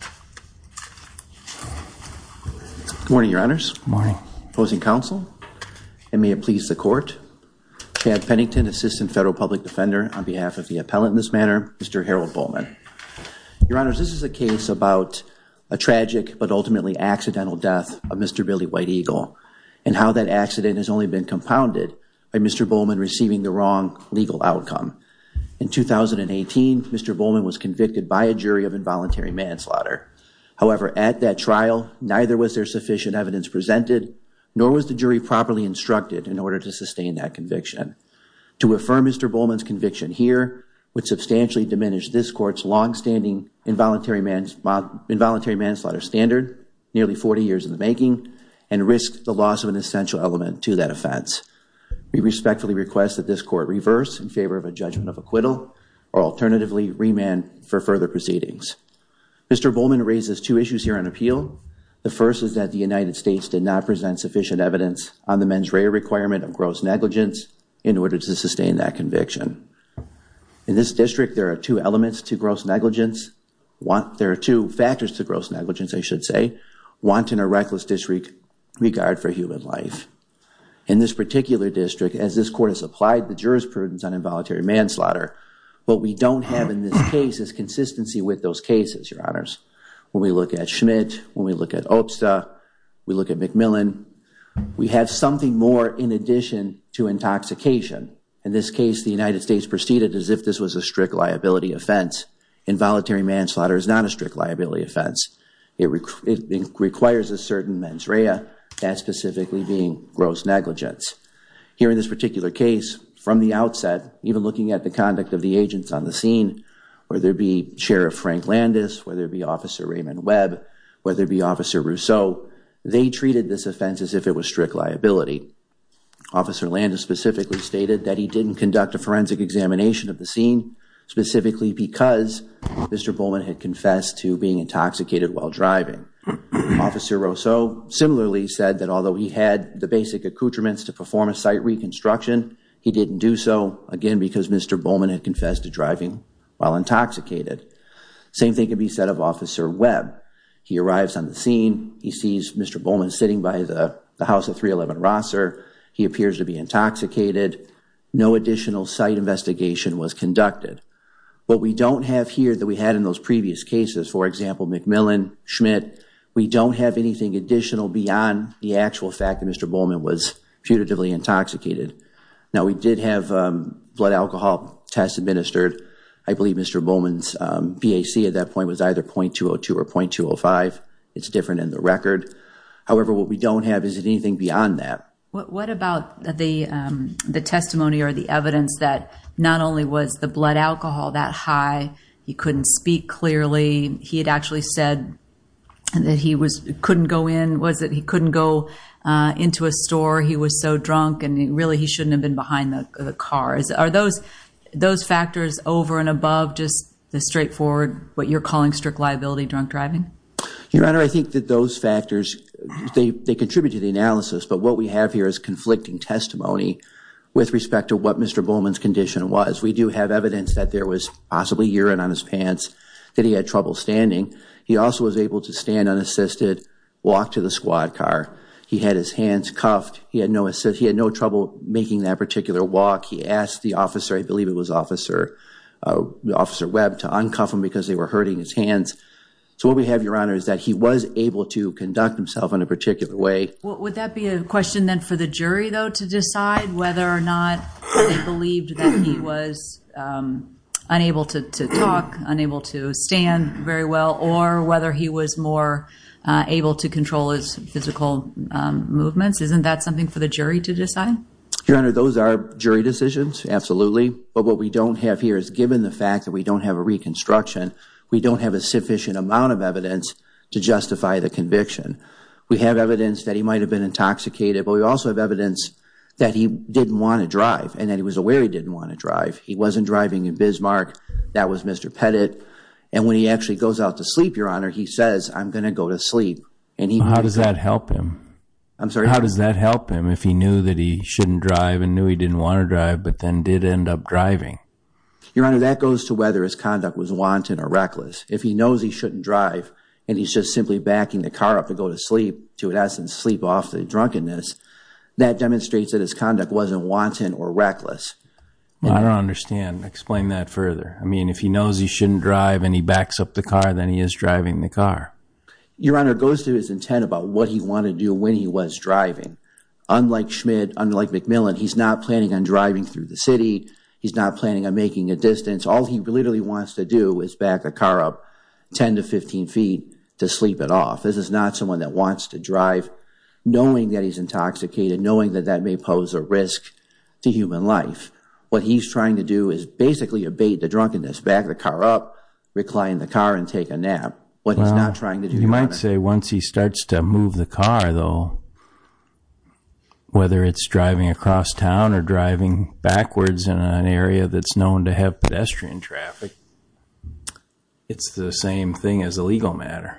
Good morning, your honors. Good morning. Opposing counsel, and may it please the court, Chad Pennington, assistant federal public defender on behalf of the appellant in this matter, Mr. Harold Bolman. Your honors, this is a case about a tragic but ultimately accidental death of Mr. Billy White Eagle and how that accident has only been compounded by Mr. Bolman receiving the wrong legal outcome. In 2018, Mr. Bolman was convicted by a jury of involuntary manslaughter. However, at that trial, neither was there sufficient evidence presented, nor was the jury properly instructed in order to sustain that conviction. To affirm Mr. Bolman's conviction here would substantially diminish this court's longstanding involuntary manslaughter standard, nearly 40 years in the making, and risk the loss of an essential element to that offense. We respectfully request that this court reverse in favor of a judgment of acquittal or alternatively remand for further proceedings. Mr. Bolman raises two issues here on appeal. The first is that the United States did not present sufficient evidence on the mens rea requirement of gross negligence in order to sustain that conviction. In this district, there are two elements to gross negligence. There are two factors to gross negligence, I should say, wanton or reckless disregard for human life. In this particular district, as this court has applied the jurors' prudence on involuntary manslaughter, what we don't have in this case is consistency with those cases, your honors. When we look at Schmidt, when we look at Obsta, we look at McMillan, we have something more in addition to intoxication. In this case, the United States proceeded as if this was a strict liability offense. Involuntary manslaughter is not a strict liability offense. It requires a certain amount of mens rea, specifically being gross negligence. Here in this particular case, from the outset, even looking at the conduct of the agents on the scene, whether it be Sheriff Frank Landis, whether it be Officer Raymond Webb, whether it be Officer Rousseau, they treated this offense as if it was strict liability. Officer Landis specifically stated that he didn't conduct a forensic examination of the scene specifically because Mr. Bolman had confessed to being intoxicated while driving. Officer Rousseau similarly said that although he had the basic accoutrements to perform a site reconstruction, he didn't do so, again, because Mr. Bolman had confessed to driving while intoxicated. Same thing can be said of Officer Webb. He arrives on the scene. He sees Mr. Bolman sitting by the house of 311 Rosser. He appears to be intoxicated. No additional site investigation was conducted. What we don't have here that we had in those previous cases, for example, McMillan, Schmidt, we don't have anything additional beyond the actual fact that Mr. Bolman was putatively intoxicated. Now, we did have blood alcohol tests administered. I believe Mr. Bolman's BAC at that point was either .202 or .205. It's different in the record. However, what we don't have is anything beyond that. What about the testimony or the evidence that not only was the blood alcohol that high, he couldn't speak clearly, he had actually said that he couldn't go in, was that he couldn't go into a store, he was so drunk, and really he shouldn't have been behind the car. Are those factors over and above just the straightforward, what you're calling strict liability, drunk driving? Your Honor, I think that those factors, they contribute to the analysis, but what we have here is conflicting testimony with respect to what Mr. Bolman's condition was. We do have evidence that there was possibly urine on his pants, that he had trouble standing. He also was able to stand unassisted, walk to the squad car. He had his hands cuffed. He had no trouble making that particular walk. He asked the officer, I believe it was Officer Webb, to uncuff him because they were hurting his hands. So what we have, Your Honor, is that he was able to conduct himself in a particular way. Would that be a question then for the jury, though, to decide whether or not they believed that he was unable to talk, unable to stand very well, or whether he was more able to control his physical movements? Isn't that something for the jury to decide? Your Honor, those are jury decisions, absolutely, but what we don't have here is given the fact that we don't have a reconstruction, we don't have a sufficient amount of evidence to justify the conviction. We have evidence that he might have been intoxicated, but we also have evidence that he didn't want to drive and that he was aware he didn't want to drive. He wasn't driving in Bismarck. That was Mr. Pettit. And when he actually goes out to sleep, Your Honor, he says, I'm going to go to sleep. How does that help him? How does that help him if he knew that he shouldn't drive and knew he didn't want to drive, but then did end up driving? Your Honor, that goes to whether his conduct was wanton or reckless. If he knows he shouldn't drive and he's just simply backing the car up to go to sleep, to in essence sleep off the drunkenness, that demonstrates that his conduct wasn't wanton or reckless. I don't understand. Explain that further. I mean, if he knows he shouldn't drive and he backs up the car, then he is driving the car. Your Honor, it goes to his intent about what he wanted to do when he was driving. Unlike McMillan, he's not planning on driving through the city. He's not planning on making a distance. All he literally wants to do is back the car up 10 to 15 feet to sleep it off. This is not someone that wants to drive knowing that he's intoxicated, knowing that that may pose a risk to human life. What he's trying to do is basically abate the drunkenness, back the car up, recline the car and take a nap. What he's not trying to do, Your Honor. I would say once he starts to move the car though, whether it's driving across town or driving backwards in an area that's known to have pedestrian traffic, it's the same thing as a legal matter.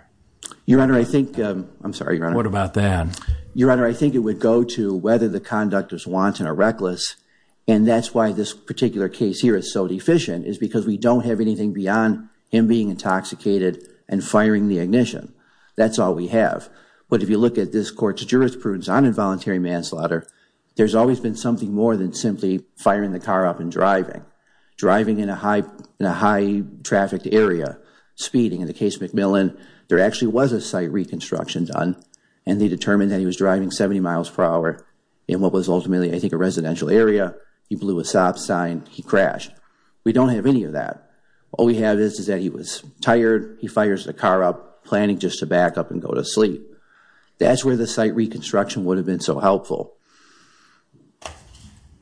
Your Honor, I think, I'm sorry, Your Honor. What about that? Your Honor, I think it would go to whether the conduct was wanton or reckless. And that's why this particular case here is so deficient, is because we don't have anything beyond him being intoxicated and firing the ignition. That's all we have. But if you look at this court's jurisprudence on involuntary manslaughter, there's always been something more than simply firing the car up and driving. Driving in a high trafficked area, speeding, in the case of McMillan, there actually was a site reconstruction done and they determined that he was driving 70 miles per hour in what was ultimately, I think, a residential area. He blew a stop sign, he crashed. We don't have any of that. All we have is that he was tired, he fires the car up, planning just to back up and go to sleep. That's where the site reconstruction would have been so helpful.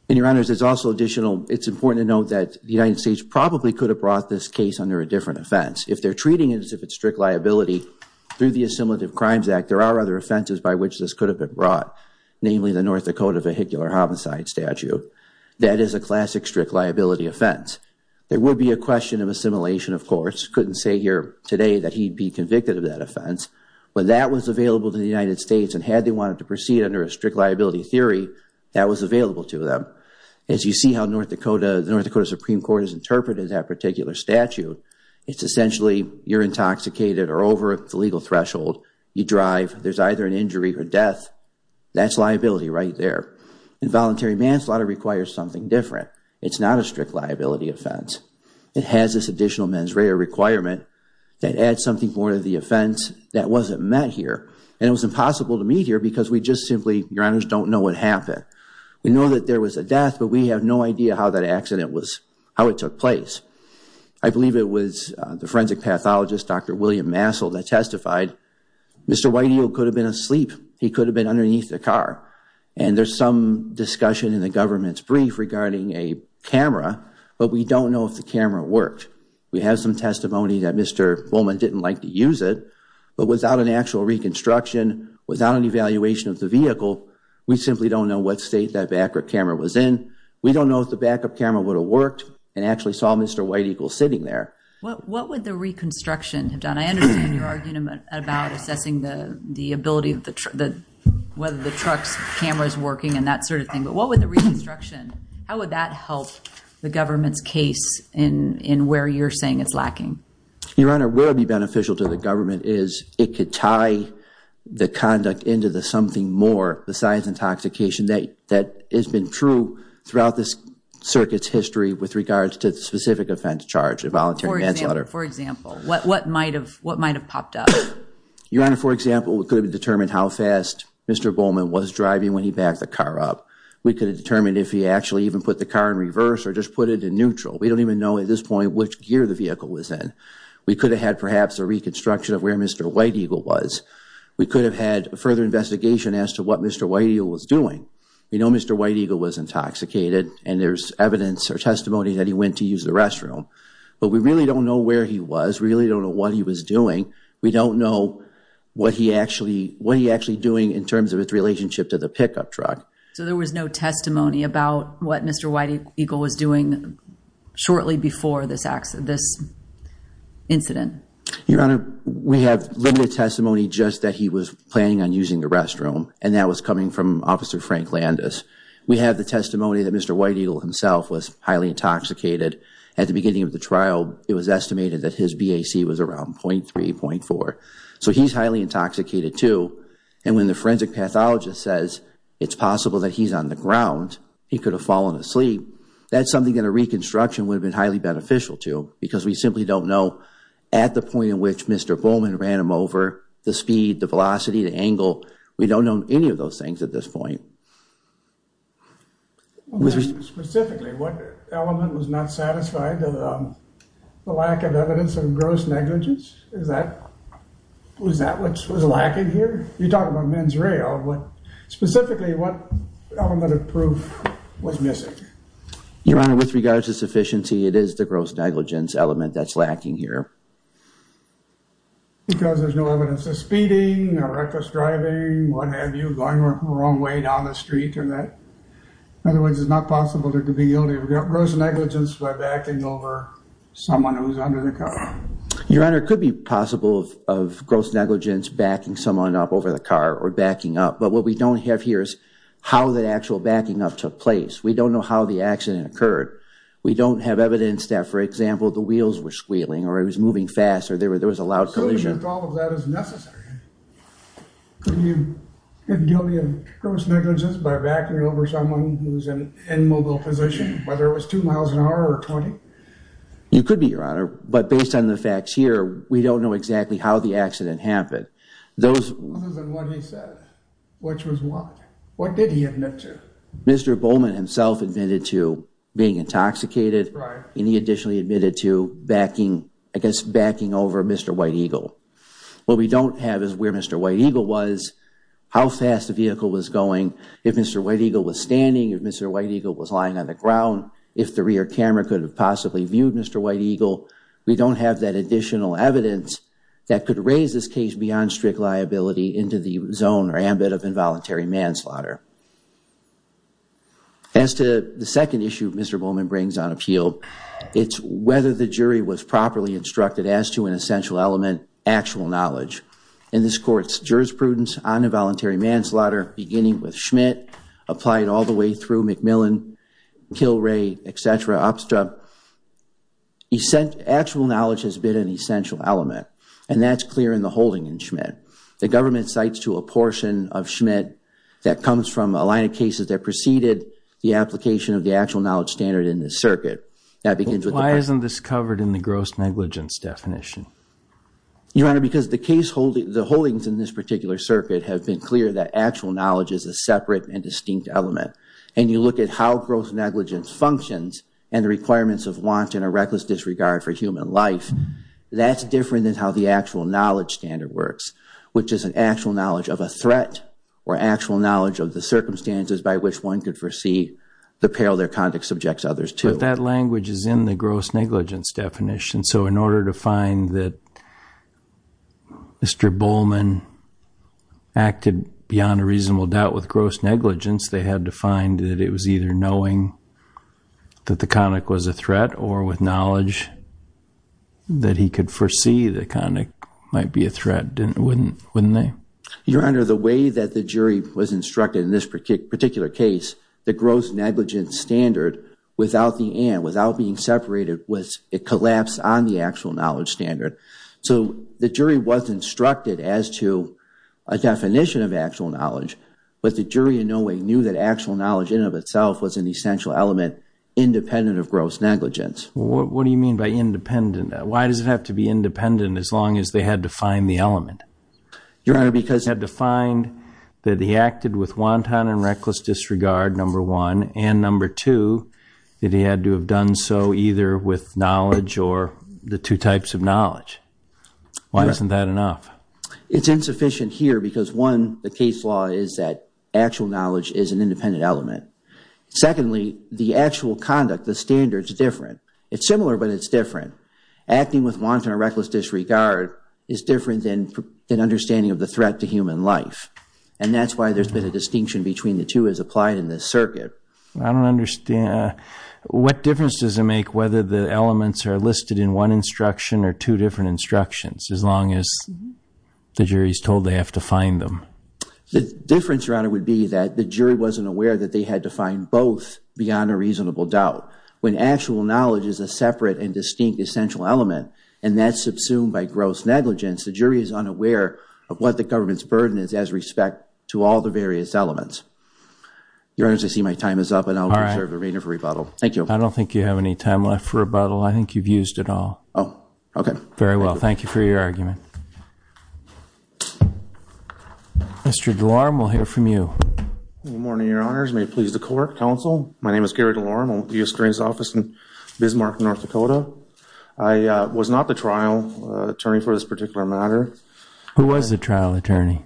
And Your Honor, there's also additional, it's important to note that the United States probably could have brought this case under a different offense. If they're treating it as if it's strict liability, through the Assimilative Crimes Act, there are other offenses by which this could have been brought, namely the North Dakota vehicular homicide statute. That is a classic strict liability offense. There would be a question of assimilation, of course. Couldn't say here today that he'd be convicted of that offense, but that was available to the United States and had they wanted to proceed under a strict liability theory, that was available to them. As you see how the North Dakota Supreme Court has interpreted that particular statute, it's essentially you're intoxicated or over the legal threshold, you drive, there's either an injury or death, that's liability right there. Involuntary manslaughter requires something different. It's not a strict liability offense. It has this additional mens rea requirement that adds something more to the offense that wasn't met here, and it was impossible to meet here because we just simply, Your Honors, don't know what happened. We know that there was a death, but we have no idea how that accident was, how it took place. I believe it was the forensic pathologist, Dr. William Massell, that testified, Mr. Whiteheel could have been asleep. He could have been underneath the in the government's brief regarding a camera, but we don't know if the camera worked. We have some testimony that Mr. Bowman didn't like to use it, but without an actual reconstruction, without an evaluation of the vehicle, we simply don't know what state that back-up camera was in. We don't know if the back-up camera would have worked and actually saw Mr. Whiteheel sitting there. What would the reconstruction have done? I understand you're arguing about assessing the ability of the whether the truck's camera is working and that sort of thing, but what would the reconstruction, how would that help the government's case in where you're saying it's lacking? Your Honor, where it would be beneficial to the government is it could tie the conduct into the something more besides intoxication that has been true throughout this circuit's history with regards to the specific offense charged, a voluntary manslaughter. For example, what might have popped up? Your Honor, for example, we could have determined how fast Mr. Bowman was driving when he backed the car up. We could have determined if he actually even put the car in reverse or just put it in neutral. We don't even know at this point which gear the vehicle was in. We could have had perhaps a reconstruction of where Mr. Whiteheel was. We could have had a further investigation as to what Mr. Whiteheel was doing. We know Mr. Whiteheel was intoxicated and there's evidence or testimony that he went to use the restroom, but we really don't know where he was, really don't know what he was doing. We don't know what he actually doing in terms of its relationship to the pickup truck. So there was no testimony about what Mr. Whiteheel was doing shortly before this accident, this incident? Your Honor, we have limited testimony just that he was planning on using the restroom and that was coming from Officer Frank Landis. We have the testimony that Mr. Whiteheel himself was highly intoxicated. At the beginning of the trial, it was estimated that his BAC was around 0.3, 0.4. So he's highly intoxicated too and when the forensic pathologist says it's possible that he's on the ground, he could have fallen asleep, that's something that a reconstruction would have been highly beneficial to because we simply don't know at the point in which Mr. Bowman ran him over, the speed, the velocity, the angle. We don't know any of those things at this point. Specifically, what element was not satisfied? The lack of evidence of gross negligence? Was that what was lacking here? You're talking about men's rail. Specifically, what element of proof was missing? Your Honor, with regards to sufficiency, it is the gross negligence element that's lacking here. Because there's no evidence of speeding or reckless driving, what have you, going the street or that? Otherwise, it's not possible to be guilty of gross negligence by backing over someone who's under the car. Your Honor, it could be possible of gross negligence backing someone up over the car or backing up, but what we don't have here is how the actual backing up took place. We don't know how the accident occurred. We don't have evidence that, for example, the wheels were squealing or he was moving fast or there was a loud collision. If all of that is necessary, could you get guilty of gross negligence by backing over someone who's in an immobile position, whether it was two miles an hour or 20? You could be, Your Honor, but based on the facts here, we don't know exactly how the accident happened. Other than what he said, which was what? What did he admit to? Mr. Bowman himself admitted to being intoxicated and he additionally admitted to backing over Mr. White Eagle. What we don't have is where Mr. White Eagle was, how fast the vehicle was going, if Mr. White Eagle was standing, if Mr. White Eagle was lying on the ground, if the rear camera could have possibly viewed Mr. White Eagle. We don't have that additional evidence that could raise this case beyond strict liability into the zone or ambit of involuntary manslaughter. As to the second issue Mr. Bowman brings on appeal, it's whether the jury was properly instructed as to an essential element, actual knowledge. In this court's jurisprudence on involuntary manslaughter, beginning with Schmidt, applied all the way through McMillan, Kilray, et cetera, abstra, actual knowledge has been an essential element and that's clear in the holding in Schmidt. The government cites to a portion of Schmidt that comes from a line of cases that preceded the application of the actual knowledge standard in this circuit. Why isn't this covered in the gross negligence definition? Your Honor, because the holdings in this particular circuit have been clear that actual knowledge is a separate and distinct element. And you look at how gross negligence functions and the requirements of want and a reckless disregard for human life, that's different than how the actual knowledge standard works, which is an actual knowledge of a threat or actual knowledge of the circumstances by which one could foresee the peril their conduct subjects others to. But that language is in the gross negligence definition. So in order to find that Mr. Bowman acted beyond a reasonable doubt with gross negligence, they had to find that it was either knowing that the conduct was a threat or with knowledge that he could foresee the conduct might be a threat, wouldn't they? Your Honor, the way that the jury was instructed in this particular case, the gross negligence standard without the and, without being separated, it collapsed on the actual knowledge standard. So the jury was instructed as to a definition of actual knowledge, but the jury in no way knew that actual knowledge in and of itself was an essential element independent of gross negligence. What do you mean by independent? Why does it have to be independent as long as they had to find the element? Your Honor, because he had to find that he acted with wanton and reckless disregard, number one, and number two, that he had to have done so either with knowledge or the two types of knowledge. Why isn't that enough? It's insufficient here because, one, the case law is that actual knowledge is an independent element. Secondly, the actual conduct, the standard, is different. It's similar, but it's different. Acting with wanton or reckless disregard is different than understanding of the threat to human life, and that's why there's been a distinction between the two as applied in this circuit. I don't understand. What difference does it make whether the elements are listed in one instruction or two different instructions as long as the jury's told they have to find them? The difference, Your Honor, would be that the jury wasn't aware that they had to find both beyond a reasonable doubt. When actual knowledge is a separate and distinct essential element, and that's subsumed by gross negligence, the jury is unaware of what the government's burden is as respect to all the various elements. Your Honor, as I see my time is up, and I'll reserve the remainder for rebuttal. Thank you. I don't think you have any time left for rebuttal. I think you've used it all. Oh. Okay. Very well. Thank you for your argument. Mr. DeLorme, we'll hear from you. Good morning, Your Honors. May it please the Court, Counsel. My name is Gary DeLorme. I'm not the trial attorney for this particular matter. Who was the trial attorney?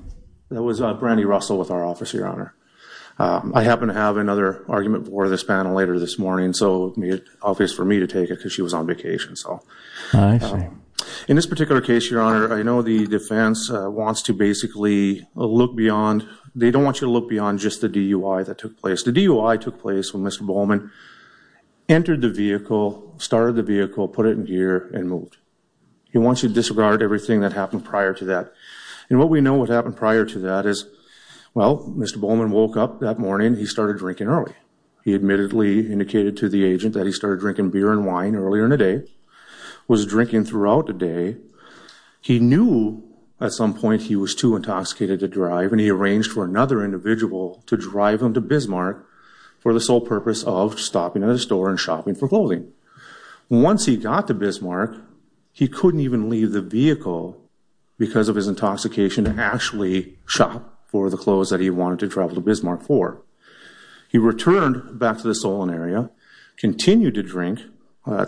It was Brandy Russell with our office, Your Honor. I happen to have another argument before this panel later this morning, so it would be obvious for me to take it because she was on vacation. I see. In this particular case, Your Honor, I know the defense wants to basically look beyond – they don't want you to look beyond just the DUI that took place. The DUI took place when Mr. Bowman entered the vehicle, started the vehicle, put it in gear, and moved. He wants you to disregard everything that happened prior to that. And what we know what happened prior to that is, well, Mr. Bowman woke up that morning. He started drinking early. He admittedly indicated to the agent that he started drinking beer and wine earlier in the day, was drinking throughout the day. He knew at some point he was too intoxicated to drive, and he arranged for another individual to drive him to Bismarck for the sole purpose of stopping at a store and shopping for clothing. Once he got to Bismarck, he couldn't even leave the vehicle because of his intoxication to actually shop for the clothes that he wanted to travel to Bismarck for. He returned back to the Solon area, continued to drink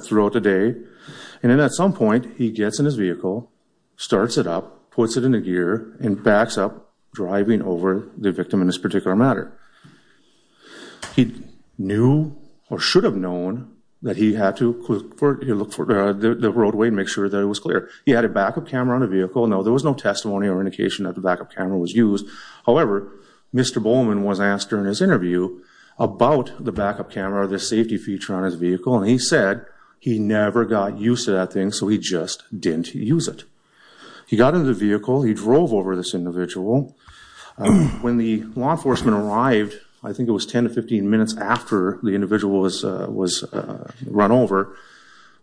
throughout the day, and then at some point, he gets in his vehicle, starts it up, puts it into gear, and backs up, driving over the victim in this particular matter. He knew or should have known that he had to look for the roadway and make sure that it was clear. He had a backup camera on the vehicle. No, there was no testimony or indication that the backup camera was used. However, Mr. Bowman was asked during his interview about the backup camera or the safety feature on his vehicle, and he said he never got used to that thing, so he just didn't use it. He got in the vehicle. He drove over this individual. When the law enforcement arrived, I think it was 10 to 15 minutes after the individual was run over,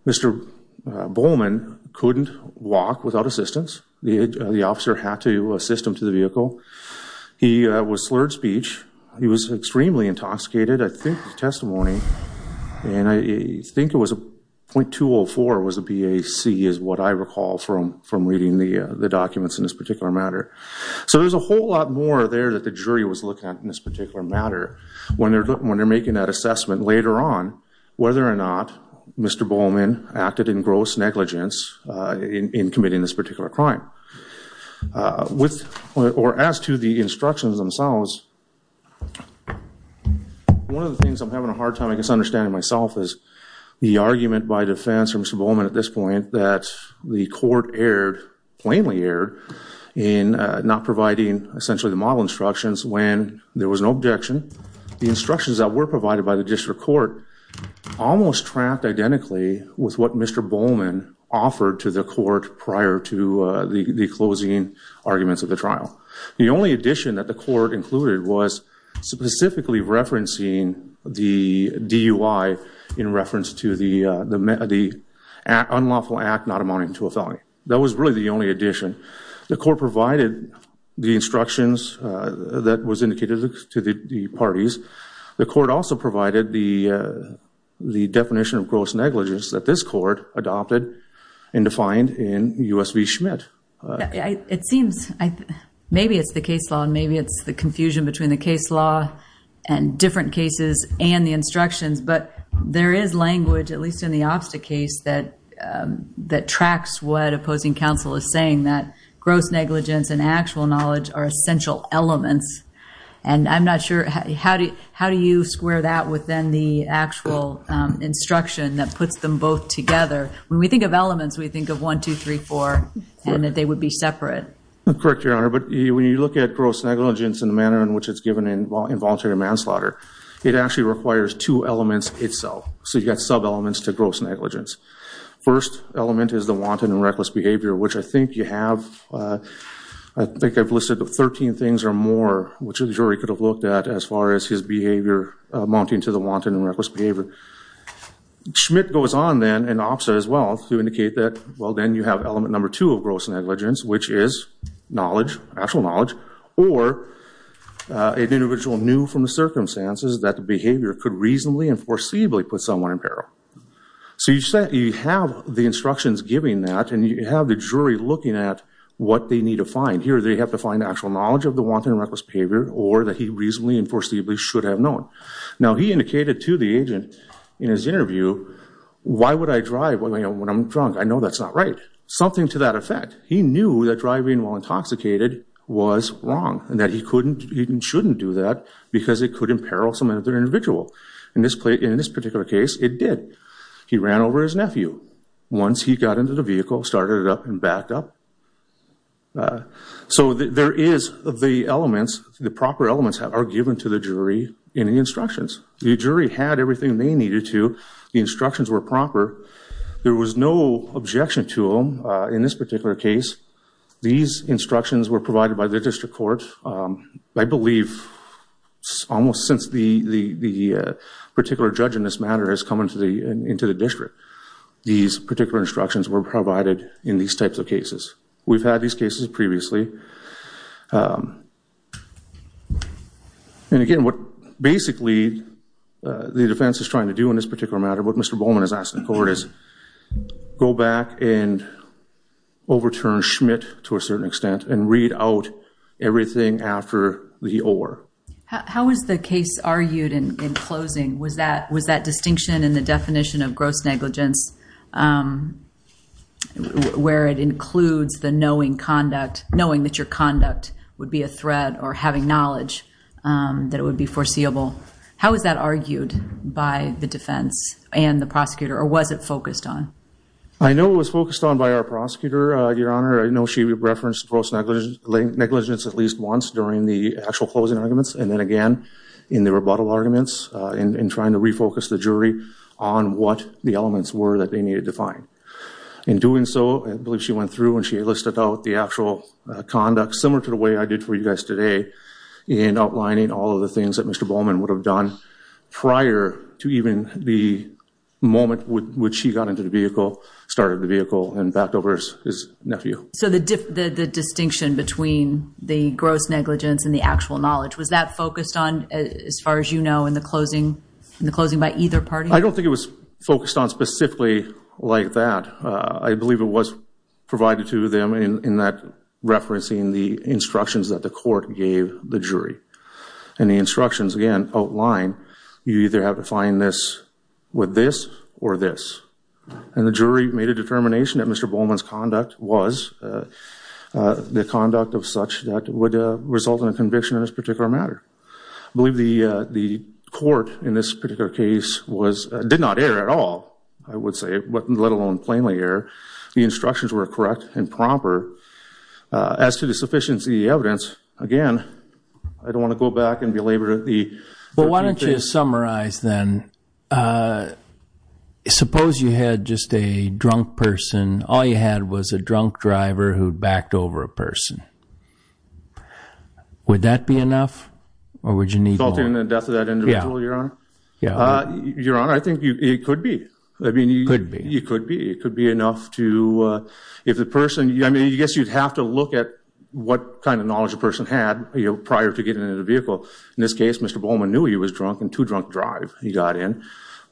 Mr. Bowman couldn't walk without assistance. The officer had to assist him to the vehicle. He was slurred speech. He was extremely intoxicated. I think the testimony, and I think it was the PAC, is what I recall from reading the documents in this particular matter. So there's a whole lot more there that the jury was looking at in this particular matter when they're making that assessment later on whether or not Mr. Bowman acted in gross negligence in committing this particular crime. As to the instructions themselves, one of the things I'm having a hard time understanding myself is the argument by defense for Mr. Bowman at this point that the court erred, plainly erred, in not providing essentially the model instructions when there was no objection. The instructions that were provided by the district court almost tracked identically with what Mr. Bowman offered to the court prior to the closing arguments of the trial. The only addition that the court included was specifically referencing the DUI in reference to the actions of Mr. Bowman in the case of unlawful act not amounting to a felony. That was really the only addition. The court provided the instructions that was indicated to the parties. The court also provided the definition of gross negligence that this court adopted and defined in U.S. v. Schmidt. It seems, maybe it's the case law and maybe it's the confusion between the case law and different cases and the instructions, but there is language, at least in the Obsta case, that tracks what opposing counsel is saying, that gross negligence and actual knowledge are essential elements. I'm not sure, how do you square that with then the actual instruction that puts them both together? When we think of elements, we think of one, two, three, four, and that they would be separate. Correct, Your Honor, but when you look at gross negligence and the manner in which it's given in voluntary manslaughter, it actually requires two elements itself. You've got sub-elements to gross negligence. First element is the wanton and reckless behavior, which I think you have, I think I've listed 13 things or more which a jury could have looked at as far as his behavior amounting to the wanton and reckless behavior. Schmidt goes on then in Obsta as well to indicate that, well, then you have element number two of gross negligence, which is knowledge, actual knowledge, or an individual knew from the circumstances that the behavior could reasonably and foreseeably put someone in peril. So you have the instructions giving that, and you have the jury looking at what they need to find. Here, they have to find actual knowledge of the wanton and reckless behavior, or that he reasonably and foreseeably should have known. Now, he indicated to the agent in his interview, why would I drive when I'm drunk? I know that's not right. Something to that effect. He knew that driving while intoxicated was wrong, and that he shouldn't do that because it could imperil some other individual. In this particular case, it did. He ran over his nephew. Once he got into the vehicle, started it up and backed up. So there is the elements, the proper elements are given to the jury in the instructions. The jury had everything they needed to. The instructions were proper. There was no objection to them in this particular case. These instructions were provided by the district court. I believe almost since the particular judge in this matter has come into the district, these particular instructions were provided in these types of cases. We've had these cases previously. And again, what basically the defense is trying to do in this particular matter, what Mr. Bowman is asking the court is, go back and review the case to a certain extent and read out everything after the or. How was the case argued in closing? Was that distinction in the definition of gross negligence where it includes the knowing conduct, knowing that your conduct would be a threat or having knowledge that it would be foreseeable, how was that argued by the defense and the prosecutor or was it focused on? I know it was focused on by our prosecutor, Your Honor. I know she referenced gross negligence at least once during the actual closing arguments and then again in the rebuttal arguments in trying to refocus the jury on what the elements were that they needed to find. In doing so, I believe she went through and she listed out the actual conduct similar to the way I did for you guys today in outlining all of the things that Mr. Bowman would have done prior to even the moment which he got into the vehicle, started the vehicle and backed over his nephew. So the distinction between the gross negligence and the actual knowledge, was that focused on as far as you know in the closing by either party? I don't think it was focused on specifically like that. I believe it was provided to them in that referencing the instructions that the court gave the jury. And the instructions again outline, you either have to find this with this or this. And the jury made a determination that Mr. Bowman's conduct was the conduct of such that would result in a conviction in this particular matter. I believe the court in this particular case did not err at all, I would say, let alone plainly err. The instructions were correct and proper. As to the sufficiency of the evidence, again, I don't want to go back and belabor the... Well, why don't you summarize then. Suppose you had just a drunk person, all you had was a drunk driver who backed over a person. Would that be enough or would you need more? Resulting in the death of that individual, Your Honor? Your Honor, I think it could be. It could be. It could be. It could be enough to... If the person... I mean, I guess you'd have to look at what kind of knowledge a person had prior to getting into the vehicle. In this case, Mr. Bowman knew he was drunk and too drunk to drive. He got in.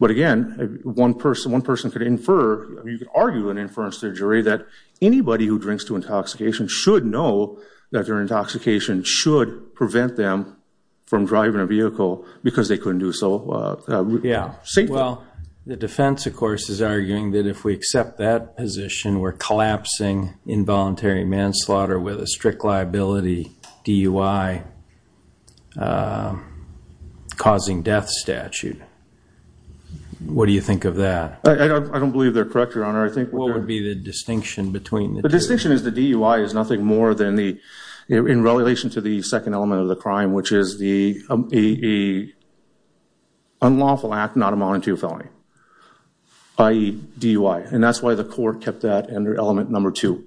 But again, one person could infer, you could argue an inference to the jury that anybody who drinks to intoxication should know that their intoxication should prevent them from driving a vehicle because they couldn't do so safely. Yeah. Well, the defense, of course, is arguing that if we accept that position, we're collapsing involuntary manslaughter with a strict liability DUI causing death statute. What do you think of that? I don't believe they're correct, Your Honor. I think... What would be the distinction between... The distinction is the DUI is nothing more than the... In relation to the second element of the crime, which is the unlawful act not amounting to a felony, i.e. DUI. And that's why the court kept that under element number two.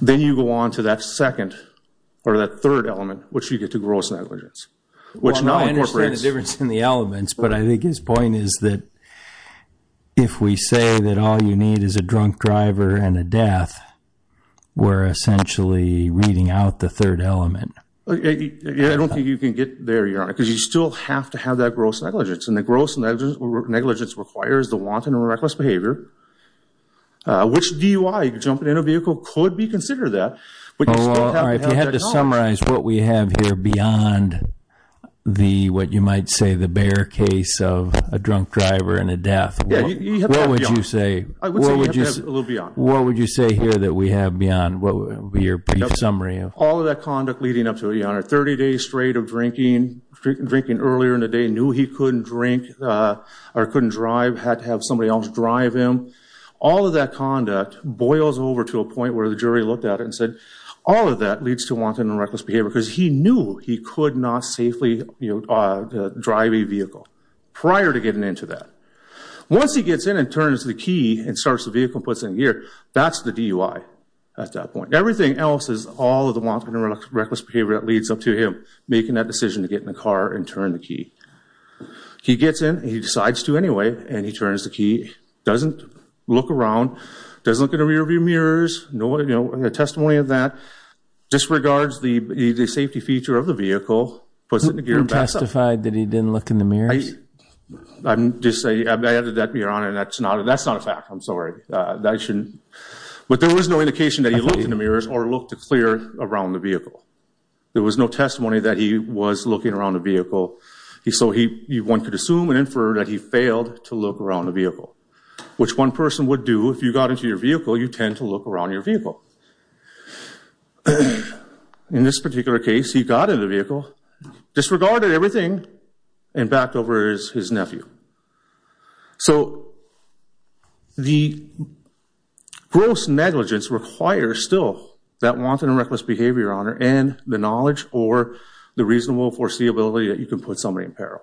Then you go on to that second, or that third element, which you get to gross negligence, which now incorporates... Well, I understand the difference in the elements, but I think his point is that if we say that all you need is a drunk driver and a death, we're essentially reading out the third element. I don't think you can get there, Your Honor, because you still have to have that gross negligence. And the gross negligence requires the wanton or reckless behavior, which DUI, jumping in a vehicle, could be considered that, but you still have to have that knowledge. All right. If you had to summarize what we have here beyond the, what you might say, the bare case of a drunk driver and a death, what would you say? I would say we have to have a little beyond. What would you say here that we have beyond your brief summary of... All of that conduct leading up to it, Your Honor. Thirty days straight of drinking, drinking earlier in the day, knew he couldn't drink or couldn't drive, had to have somebody else drive him. All of that conduct boils over to a point where the jury looked at it and said, all of that leads to wanton and reckless behavior because he knew he could not safely drive a vehicle prior to getting into that. Once he gets in and turns the key and starts the vehicle and puts it in gear, that's the DUI at that point. Everything else is all of the wanton and reckless behavior that leads up to him making that car and turn the key. He gets in, he decides to anyway, and he turns the key, doesn't look around, doesn't look in the rearview mirrors, no testimony of that, disregards the safety feature of the vehicle, puts it in the gear and backs up. You testified that he didn't look in the mirrors? I'm just saying, I added that, Your Honor, and that's not a fact. I'm sorry. That shouldn't... But there was no indication that he looked in the mirrors or looked clear around the vehicle, so one could assume and infer that he failed to look around the vehicle, which one person would do if you got into your vehicle, you tend to look around your vehicle. In this particular case, he got in the vehicle, disregarded everything, and backed over his nephew. So the gross negligence requires still that wanton and reckless behavior, Your Honor, and the knowledge or the reasonable foreseeability that you can put somebody in peril.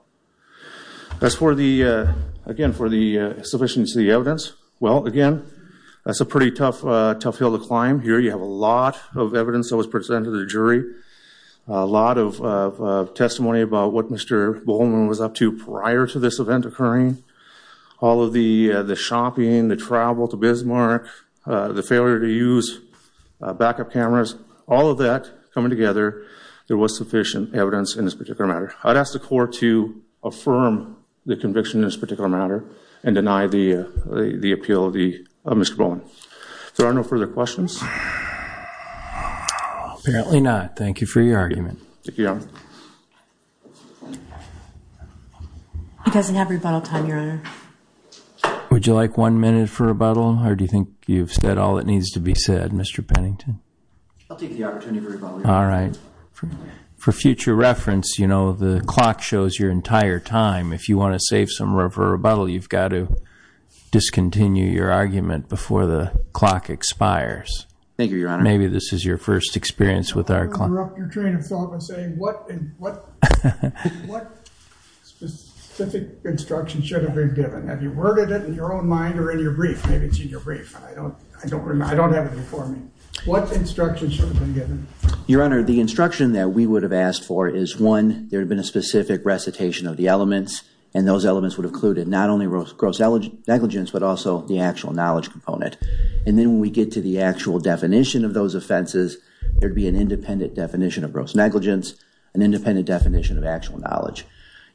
As for the, again, for the sufficiency of the evidence, well, again, that's a pretty tough hill to climb. Here you have a lot of evidence that was presented to the jury, a lot of testimony about what Mr. Bowman was up to prior to this event occurring, all of the shopping, the travel to Bismarck, the failure to use backup cameras, all of that coming together, there was sufficient evidence in this particular matter. I'd ask the court to affirm the conviction in this particular matter and deny the appeal of Mr. Bowman. If there are no further questions? Apparently not. Thank you for your argument. Thank you, Your Honor. He doesn't have rebuttal time, Your Honor. Would you like one minute for rebuttal, or do you think you've said all that needs to be said, Mr. Pennington? I'll take the opportunity for rebuttal, Your Honor. All right. For future reference, you know, the clock shows your entire time. If you want to save some room for rebuttal, you've got to discontinue your argument before the clock expires. Thank you, Your Honor. Maybe this is your first experience with our clock. I want to interrupt your train of thought by saying, what specific instruction should have been given? Have you worded it in your own mind or in your brief? Maybe it's in your brief. I don't have it before me. What instruction should have been given? Your Honor, the instruction that we would have asked for is, one, there had been a specific recitation of the elements, and those elements would have included not only gross negligence, but also the actual knowledge component. And then when we get to the actual definition of those offenses, there would be an independent definition of gross negligence, an independent definition of actual knowledge.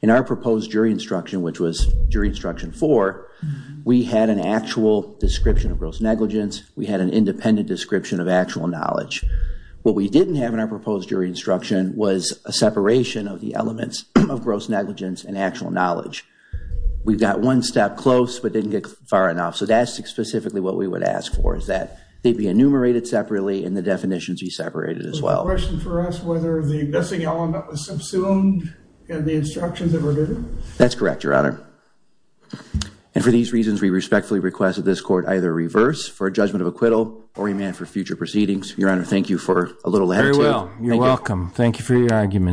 In our proposed jury instruction, which was jury instruction four, we had an actual description of gross negligence. We had an independent description of actual knowledge. What we didn't have in our proposed jury instruction was a separation of the elements of gross negligence and actual knowledge. We got one step close, but didn't get far enough. So that's specifically what we would ask for, is that they be enumerated separately and the definitions be separated as well. So the question for us, whether the missing element was subsumed in the instructions that were given? That's correct, Your Honor. And for these reasons, we respectfully request that this court either reverse for a judgment of acquittal or remand for future proceedings. Your Honor, thank you for a little attitude. Very well. You're welcome. Thank you for your argument.